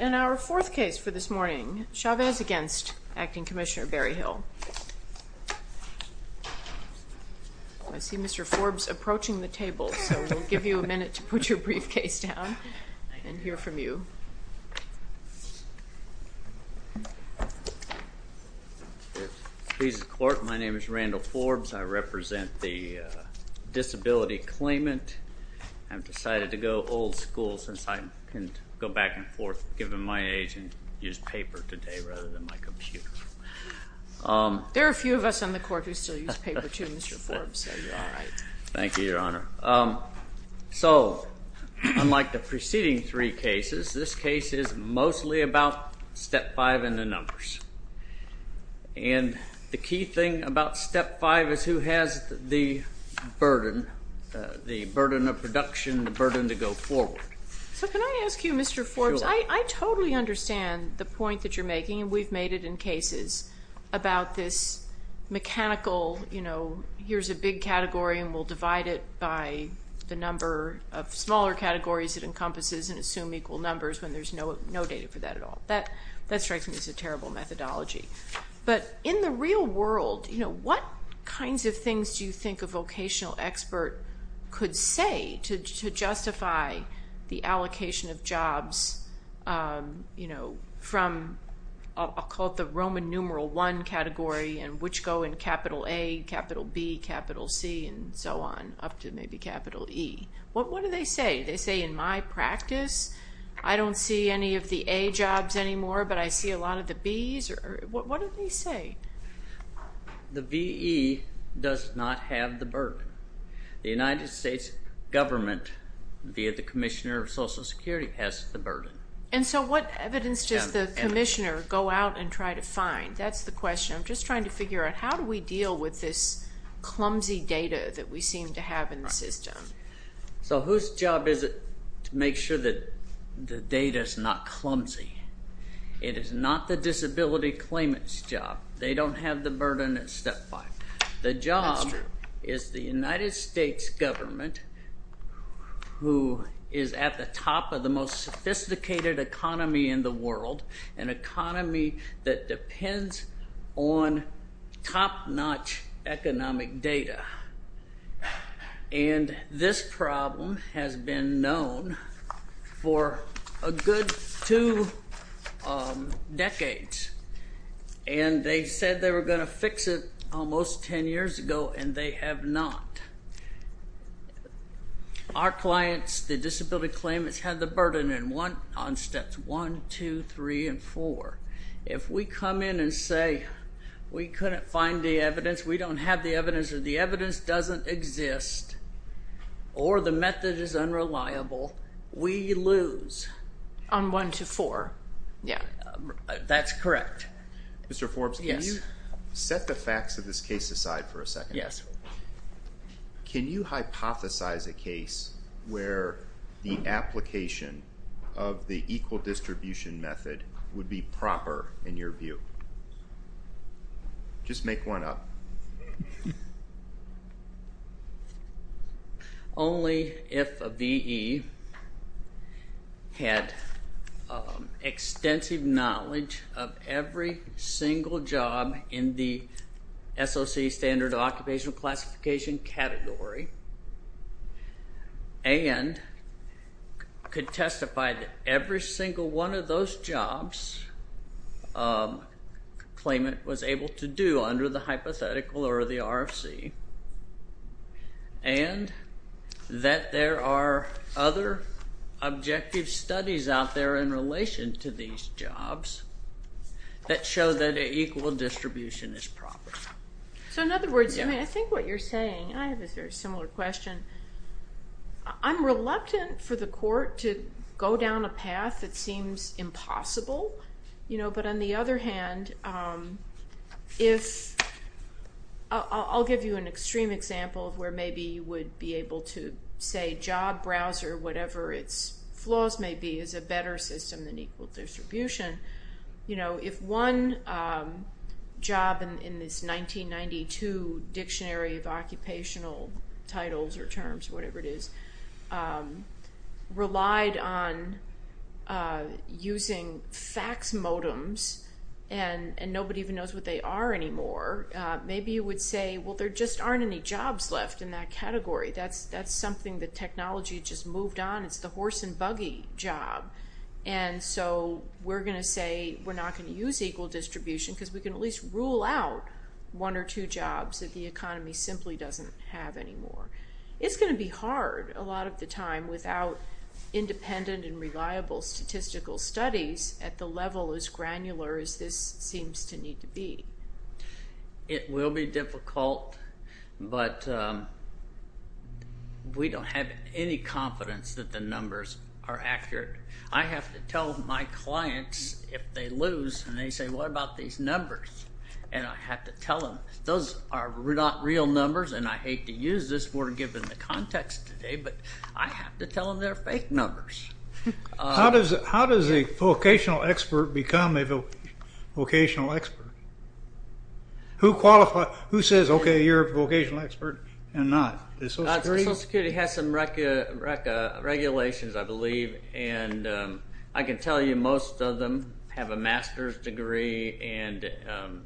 In our fourth case for this morning, Chavez v. Acting Commissioner Berryhill, I see Mr. Forbes approaching the table, so we'll give you a minute to put your briefcase down and hear from you. My name is Randall Forbes. I represent the disability claimant. I've decided to go old school since I can go back and forth given my age and use paper today rather than my computer. There are a few of us on the court who still use paper too, Mr. Forbes. Thank you, Your Honor. So unlike the preceding three cases, this case is mostly about step five in the numbers. And the key thing about step five is who has the burden, the burden of production, the burden to go forward. So can I ask you, Mr. Forbes, I totally understand the point that you're making, and we've made it in cases about this mechanical, you know, here's a big category and we'll divide it by the number of smaller categories it encompasses and assume equal numbers when there's no data for that at all. That strikes me as a terrible methodology. But in the real world, you know, what kinds of things do you think a vocational expert could say to justify the allocation of jobs, you know, from, I'll call it the Roman numeral one category and which go in capital A, capital B, capital C, and so on up to maybe capital E. What do they say? They say in my practice, I don't see any of the A jobs anymore, but I see a lot of the Bs? What do they say? The VE does not have the burden. The United States government, via the Commissioner of Social Security, has the burden. And so what evidence does the Commissioner go out and try to find? That's the question. I'm just trying to figure out how do we deal with this clumsy data that we seem to have in the system? So whose job is it to make sure that the data's not clumsy? It is not the disability claimant's They don't have the burden at step five. The job is the United States government, who is at the top of the most sophisticated economy in the world, an economy that depends on top-notch economic data. And this problem has been known for a good two decades, and they said they were going to fix it almost ten years ago, and they have not. Our clients, the disability claimants, have the burden on steps one, two, three, and four. If we come in and say we couldn't find the evidence, we don't have the evidence, or the evidence doesn't exist, or the method is unreliable, we lose. On one, two, four? That's correct. Mr. Forbes, can you set the facts of this case aside for a second? Can you hypothesize a case where the application of the equal distribution method would be proper, in your view? Just make one up. Only if a V.E. had extensive knowledge of every single job in the SOC standard of occupational classification category, and could testify that every single one of those jobs a claimant was able to do under the hypothetical or the RFC, and that there are other objective studies out there in relation to these jobs that show that an equal distribution is proper. So in other words, I think what you're saying, I have a very similar question, I'm reluctant for the court to go down a path that seems impossible, but on the other hand, I'll give you an extreme example where maybe you would be able to say job browser, whatever its flaws may be, is a better system than equal distribution. You know, if one job in this 1992 dictionary of occupational titles or terms, whatever it is, relied on using fax modems, and nobody even knows what they are anymore, maybe you would say, well there just aren't any jobs left in that category. That's something that technology just moved on, it's the horse and buggy job, and so we're going to say we're not going to use equal distribution because we can at least rule out one or two jobs that the economy simply doesn't have anymore. It's going to be hard a lot of the time without independent and reliable statistical studies at the level as granular as this seems to need to be. It will be difficult, but we don't have any confidence that the numbers are accurate. I have to tell my clients if they lose, and they say, what about these numbers? And I have to tell them, those are not real numbers, and I hate to use this word given the context today, but I have to tell them they're fake numbers. How does a vocational expert become a vocational expert? Who says, okay, you're a vocational expert, and not? Social Security has some regulations, I believe, and I can tell you most of them have a master's degree and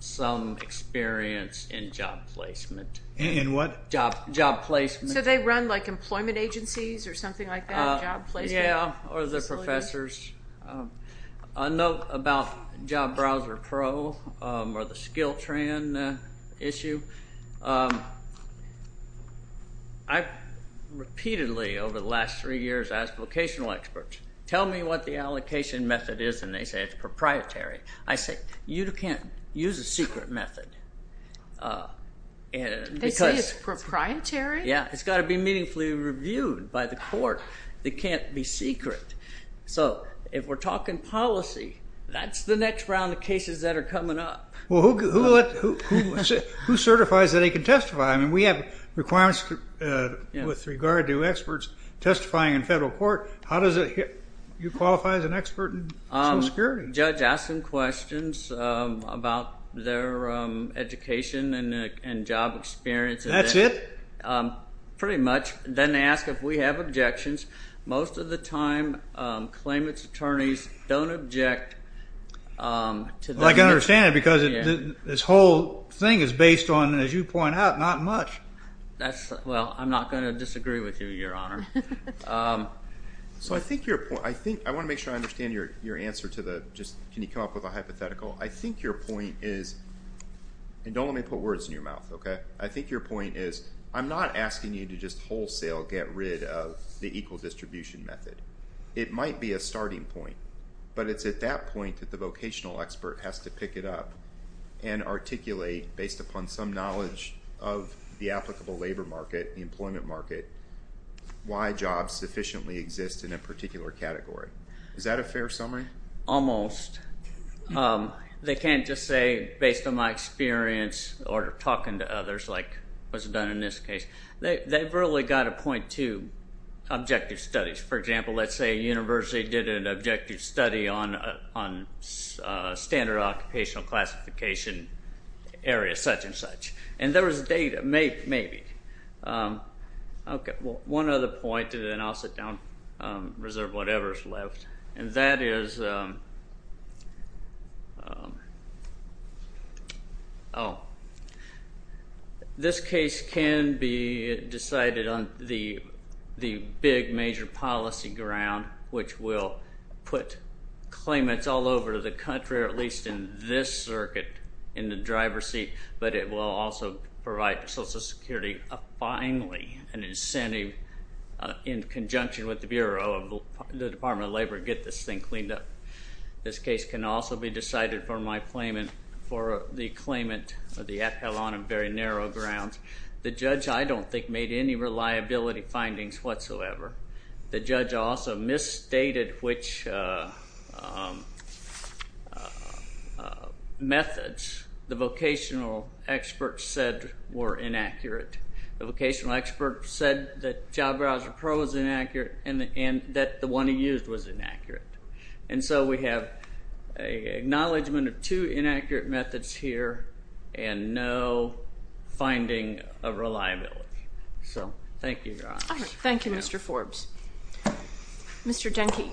some experience in job placement. In what? Job placement. So they run like employment agencies or something like that, job placement? Yeah, or they're professors. A note about Job Browser Pro or the SkillTran issue. I've repeatedly, over the last three years, asked vocational experts, tell me what the allocation method is, and they say it's proprietary. I say, you can't use a secret method, and because- They say it's proprietary? Yeah, it's got to be meaningfully reviewed by the court. It can't be secret. So if we're talking policy, that's the next round of cases that are coming up. Well, who certifies that they can testify? We have requirements with regard to experts testifying in federal court. How does it... You qualify as an expert in Social Security? Judge asking questions about their education and job experience. That's it? Pretty much. Then they ask if we have objections. Most of the time, claimant's attorneys don't object to the- I can understand it because this whole thing is based on, as you point out, not much. Well, I'm not going to disagree with you, Your Honor. So I think your point... I want to make sure I understand your answer to the, can you come up with a hypothetical. I think your point is, and don't let me put words in your mouth, okay? I think your point is, I'm not asking you to just wholesale get rid of the equal distribution method. It might be a starting point. But it's at that point that the vocational expert has to pick it up and articulate, based upon some knowledge of the applicable labor market, the employment market, why jobs sufficiently exist in a particular category. Is that a fair summary? Almost. They can't just say, based on my experience, or talking to others, like was done in this case. They've really got to point to objective studies. For example, let's say a university did an objective study on standard occupational classification areas, such and such. And there was data, maybe. One other point, and then I'll sit down, reserve whatever's left. And that is, oh, this case can be decided on the big major policy ground, which will put claimants all over the country, or at least in this circuit, in the driver's seat. But it will also provide Social Security, finally, an incentive in conjunction with the Bureau of the Department of Labor to get this thing cleaned up. This case can also be decided for the claimant on a very narrow ground. The judge, I don't think, made any reliability findings whatsoever. The judge also misstated which methods the vocational expert said were inaccurate. The vocational expert said that Job Browser Pro was inaccurate, and that the one he used was inaccurate. And so we have an acknowledgment of two inaccurate methods here, and no finding of reliability. So thank you, Your Honor. All right. Thank you, Mr. Forbes. Mr. Denke.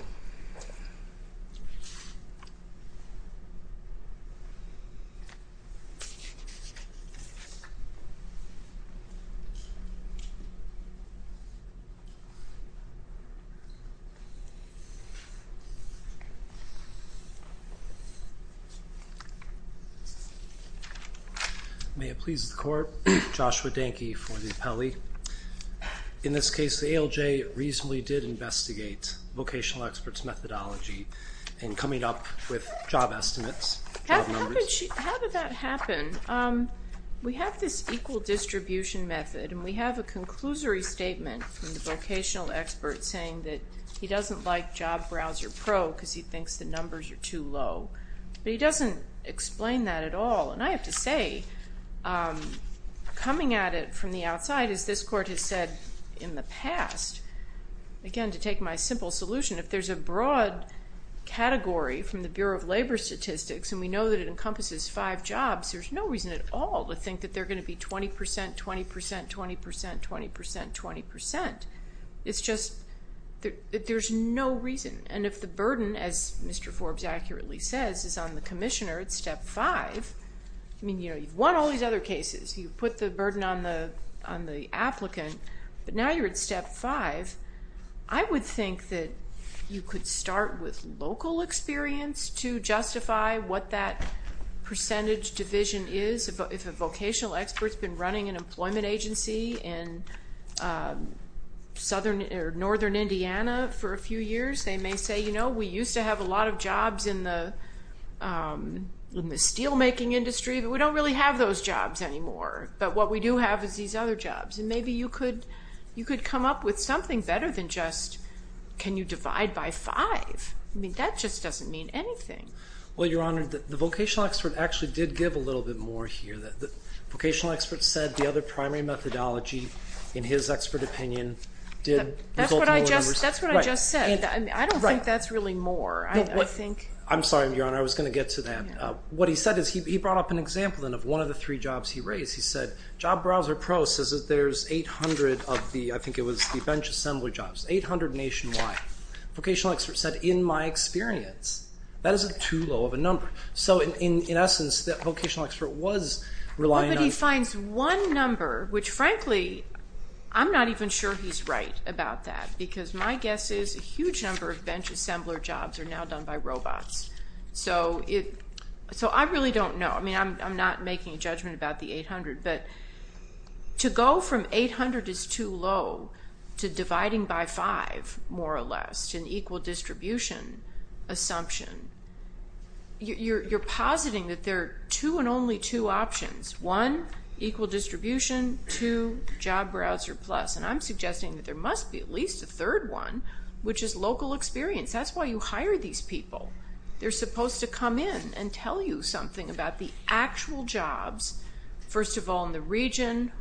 May it please the court, Joshua Denke for the appellee. In this case, the ALJ reasonably did investigate vocational expert's methodology in coming up with job estimates, job numbers. How did that happen? We have this equal distribution method, and we have a conclusory statement from the vocational expert saying that he doesn't like Job Browser Pro because he thinks the numbers are too low. But he doesn't explain that at all. And I have to say, coming at it from the outside, as this court has said in the past, again, to take my simple solution, if there's a broad category from the Bureau of Labor Statistics and we know that it encompasses five jobs, there's no reason at all to think that they're going to be 20 percent, 20 percent, 20 percent, 20 percent, 20 percent. It's just that there's no reason. And if the burden, as Mr. Forbes accurately says, is on the commissioner at step five, I mean, you've won all these other cases, you've put the burden on the applicant, but now you're at step five. I would think that you could start with local experience to justify what that percentage division is. If a vocational expert's been running an employment agency in northern Indiana for a few years, they may say, you know, we used to have a lot of jobs in the steelmaking industry, but we don't really have those jobs anymore. But what we do have is these other jobs. And maybe you could come up with something better than just, can you divide by five? I mean, that just doesn't mean anything. Well, Your Honor, the vocational expert actually did give a little bit more here. The vocational expert said the other primary methodology, in his expert opinion, did result in lower numbers. That's what I just said. I don't think that's really more. I'm sorry, Your Honor, I was going to get to that. What he said is, he brought up an example of one of the three jobs he raised. He said, Job Browser Pro says that there's 800 of the, I think it was the bench assembly jobs. 800 nationwide. Vocational expert said, in my experience, that is too low of a number. So in essence, that vocational expert was relying on- But he finds one number, which frankly, I'm not even sure he's right about that, because my guess is a huge number of bench assembler jobs are now done by robots. So I really don't know. I mean, I'm not making a judgment about the 800, but to go from 800 is too low, to dividing by five, more or less, to an equal distribution assumption. You're positing that there are two and only two options, one, equal distribution, two, job browser plus. And I'm suggesting that there must be at least a third one, which is local experience. That's why you hire these people. They're supposed to come in and tell you something about the actual jobs. First of all, in the region,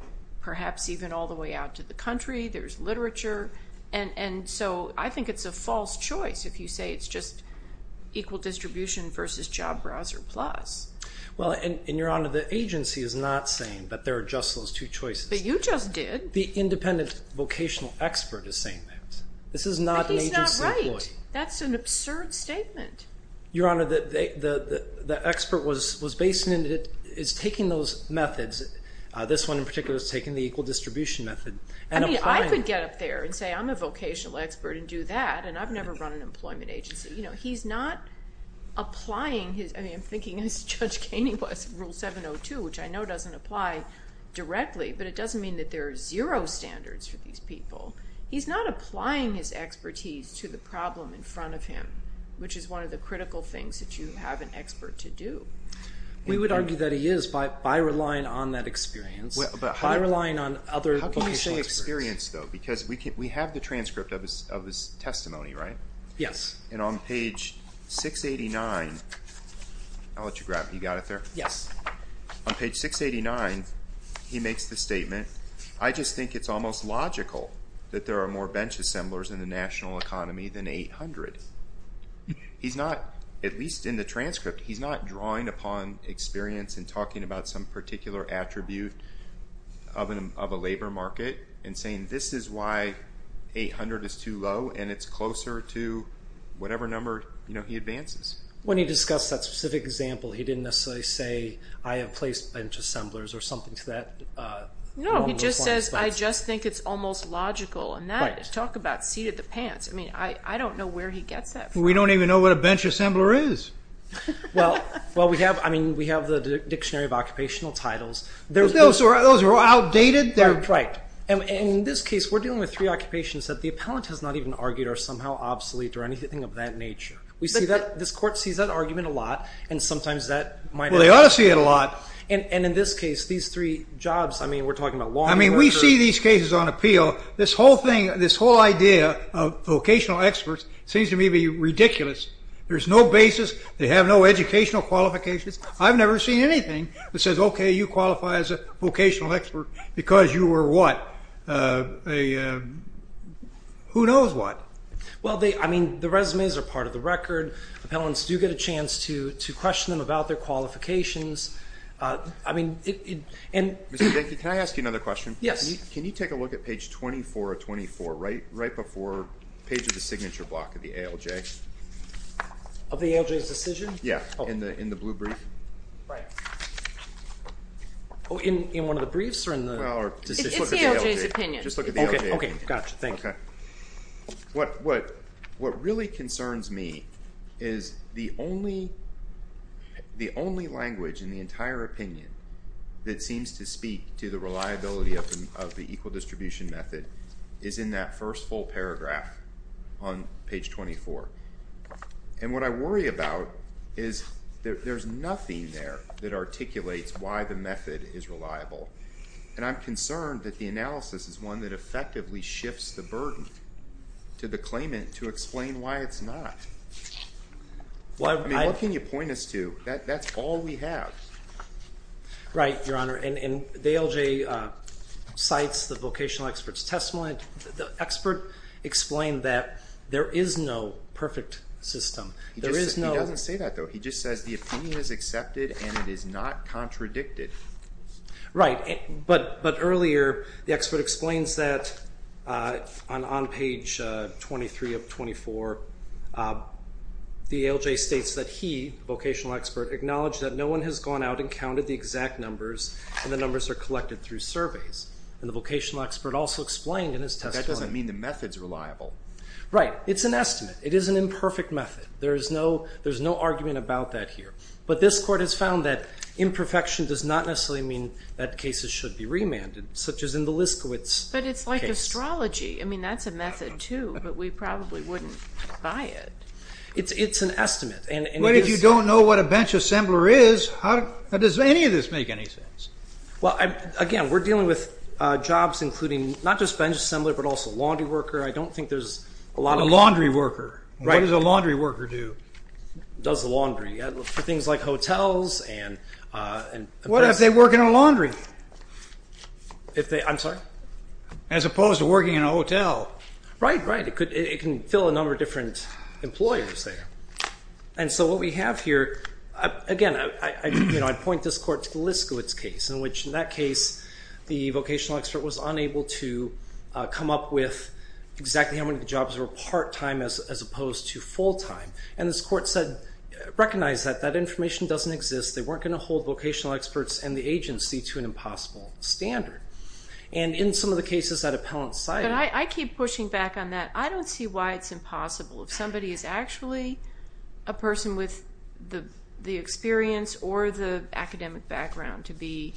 perhaps even all the way out to the country, there's literature. And so I think it's a false choice if you say it's just equal distribution versus job browser plus. Well, and Your Honor, the agency is not saying that there are just those two choices. But you just did. The independent vocational expert is saying that. This is not an agency employee. But he's not right. That's an absurd statement. Your Honor, the expert was basing it, is taking those methods, this one in particular is taking the equal distribution method and applying it. I mean, I could get up there and say I'm a vocational expert and do that, and I've never run an employment agency. He's not applying his, I mean, I'm thinking as Judge Kaney was, Rule 702, which I know doesn't apply directly, but it doesn't mean that there are zero standards for these people. He's not applying his expertise to the problem in front of him, which is one of the critical things that you have an expert to do. We would argue that he is by relying on that experience, by relying on other vocational experts. How can you say experience, though? Because we have the transcript of his testimony, right? Yes. And on page 689, I'll let you grab it. You got it there? Yes. On page 689, he makes the statement, I just think it's almost logical that there are more bench assemblers in the national economy than 800. He's not, at least in the transcript, he's not drawing upon experience and talking about some particular attribute of a labor market and saying this is why 800 is too low and it's closer to whatever number he advances. When he discussed that specific example, he didn't necessarily say I have placed bench assemblers or something to that. No. He just says, I just think it's almost logical, and that, talk about seated the pants, I don't know where he gets that from. We don't even know what a bench assembler is. Well, we have the dictionary of occupational titles. Those are outdated. Right. In this case, we're dealing with three occupations that the appellant has not even argued are somehow obsolete or anything of that nature. We see that, this court sees that argument a lot, and sometimes that might have- Well, they ought to see it a lot. And in this case, these three jobs, I mean, we're talking about law- I mean, we see these cases on appeal. This whole thing, this whole idea of vocational experts seems to me to be ridiculous. There's no basis. They have no educational qualifications. I've never seen anything that says, okay, you qualify as a vocational expert because you were what? Who knows what? Well, they, I mean, the resumes are part of the record. Appellants do get a chance to question them about their qualifications. I mean- Mr. Denke, can I ask you another question? Yes. Can you take a look at page 24 of 24, right before the page of the signature block of the ALJ? Of the ALJ's decision? Yeah. In the blue brief. Right. Oh, in one of the briefs or in the decision? Well, or- It's the ALJ's opinion. Just look at the ALJ opinion. Okay. Got you. Thank you. Okay. What really concerns me is the only language in the entire opinion that seems to speak to the reliability of the equal distribution method is in that first full paragraph on page 24. And what I worry about is there's nothing there that articulates why the method is reliable. And I'm concerned that the analysis is one that effectively shifts the burden to the claimant to explain why it's not. Well, I- I mean, what can you point us to? That's all we have. Right, Your Honor. And the ALJ cites the vocational expert's testimony. The expert explained that there is no perfect system. There is no- He doesn't say that, though. He just says the opinion is accepted and it is not contradicted. Right. But earlier, the expert explains that on page 23 of 24, the ALJ states that he, the vocational expert, acknowledged that no one has gone out and counted the exact numbers and the numbers are collected through surveys. And the vocational expert also explained in his testimony- That doesn't mean the method's reliable. Right. It's an estimate. It is an imperfect method. There is no- there's no argument about that here. But this Court has found that imperfection does not necessarily mean that cases should be remanded, such as in the Liskewitz case. But it's like astrology. I mean, that's a method, too, but we probably wouldn't buy it. It's an estimate. And it is- But if you don't know what a bench assembler is, how- does any of this make any sense? Well, again, we're dealing with jobs including not just bench assembler, but also laundry worker. I don't think there's a lot of- A laundry worker. Right. What does a laundry worker do? Does the laundry. For things like hotels and- What if they work in a laundry? If they- I'm sorry? As opposed to working in a hotel. Right, right. It could- it can fill a number of different employers there. And so what we have here- again, I'd point this Court to the Liskewitz case, in which in that case the vocational expert was unable to come up with exactly how many of the jobs were part-time as opposed to full-time. And this Court said- recognized that that information doesn't exist. They weren't going to hold vocational experts and the agency to an impossible standard. And in some of the cases that appellant cited- But I keep pushing back on that. I don't see why it's impossible. If somebody is actually a person with the experience or the academic background to be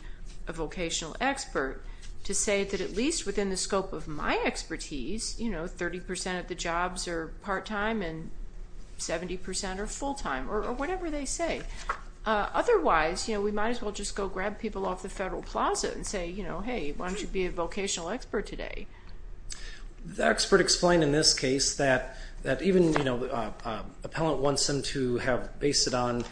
a vocational expert, to say that at least within the scope of my expertise, you know, 70% or full-time or whatever they say. Otherwise, you know, we might as well just go grab people off the Federal Plaza and say, you know, hey, why don't you be a vocational expert today? The expert explained in this case that even, you know, appellant wants them to have based it on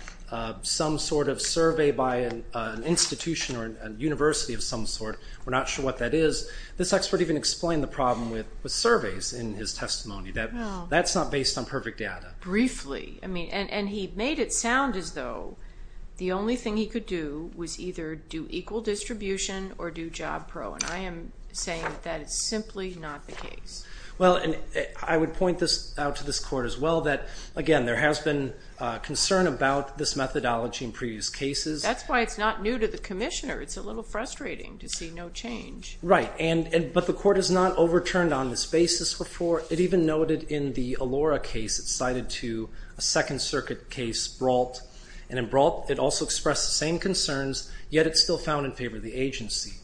some sort of survey by an institution or a university of some sort. We're not sure what that is. This expert even explained the problem with surveys in his testimony, that that's not based on perfect data. Briefly. I mean, and he made it sound as though the only thing he could do was either do equal distribution or do job pro, and I am saying that that is simply not the case. Well, and I would point this out to this Court as well, that, again, there has been concern about this methodology in previous cases. That's why it's not new to the Commissioner. It's a little frustrating to see no change. Right. And, but the Court has not overturned on this basis before. It even noted in the Allora case, it's cited to a Second Circuit case, Brault, and in Brault it also expressed the same concerns, yet it's still found in favor of the agency.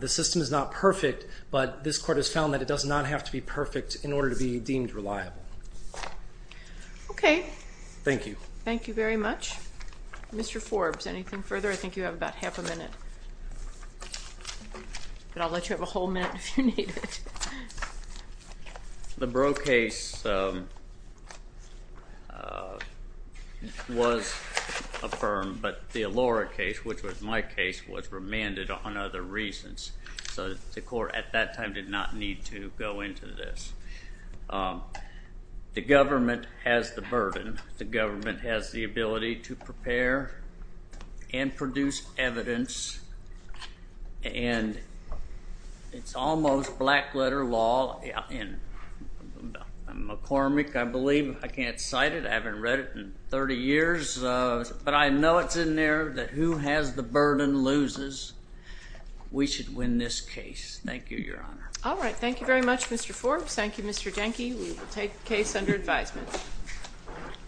The system is not perfect, but this Court has found that it does not have to be perfect in order to be deemed reliable. Okay. Thank you. Thank you very much. Mr. Forbes, anything further? I think you have about half a minute, but I'll let you have a whole minute if you need it. Thank you. The Brault case was affirmed, but the Allora case, which was my case, was remanded on other reasons, so the Court at that time did not need to go into this. The government has the burden. The government has the ability to prepare and produce evidence, and it's almost black water law in McCormick, I believe. I can't cite it. I haven't read it in 30 years, but I know it's in there that who has the burden loses. We should win this case. Thank you, Your Honor. All right. Thank you very much, Mr. Forbes. Thank you, Mr. Jenke. We will take the case under advisement.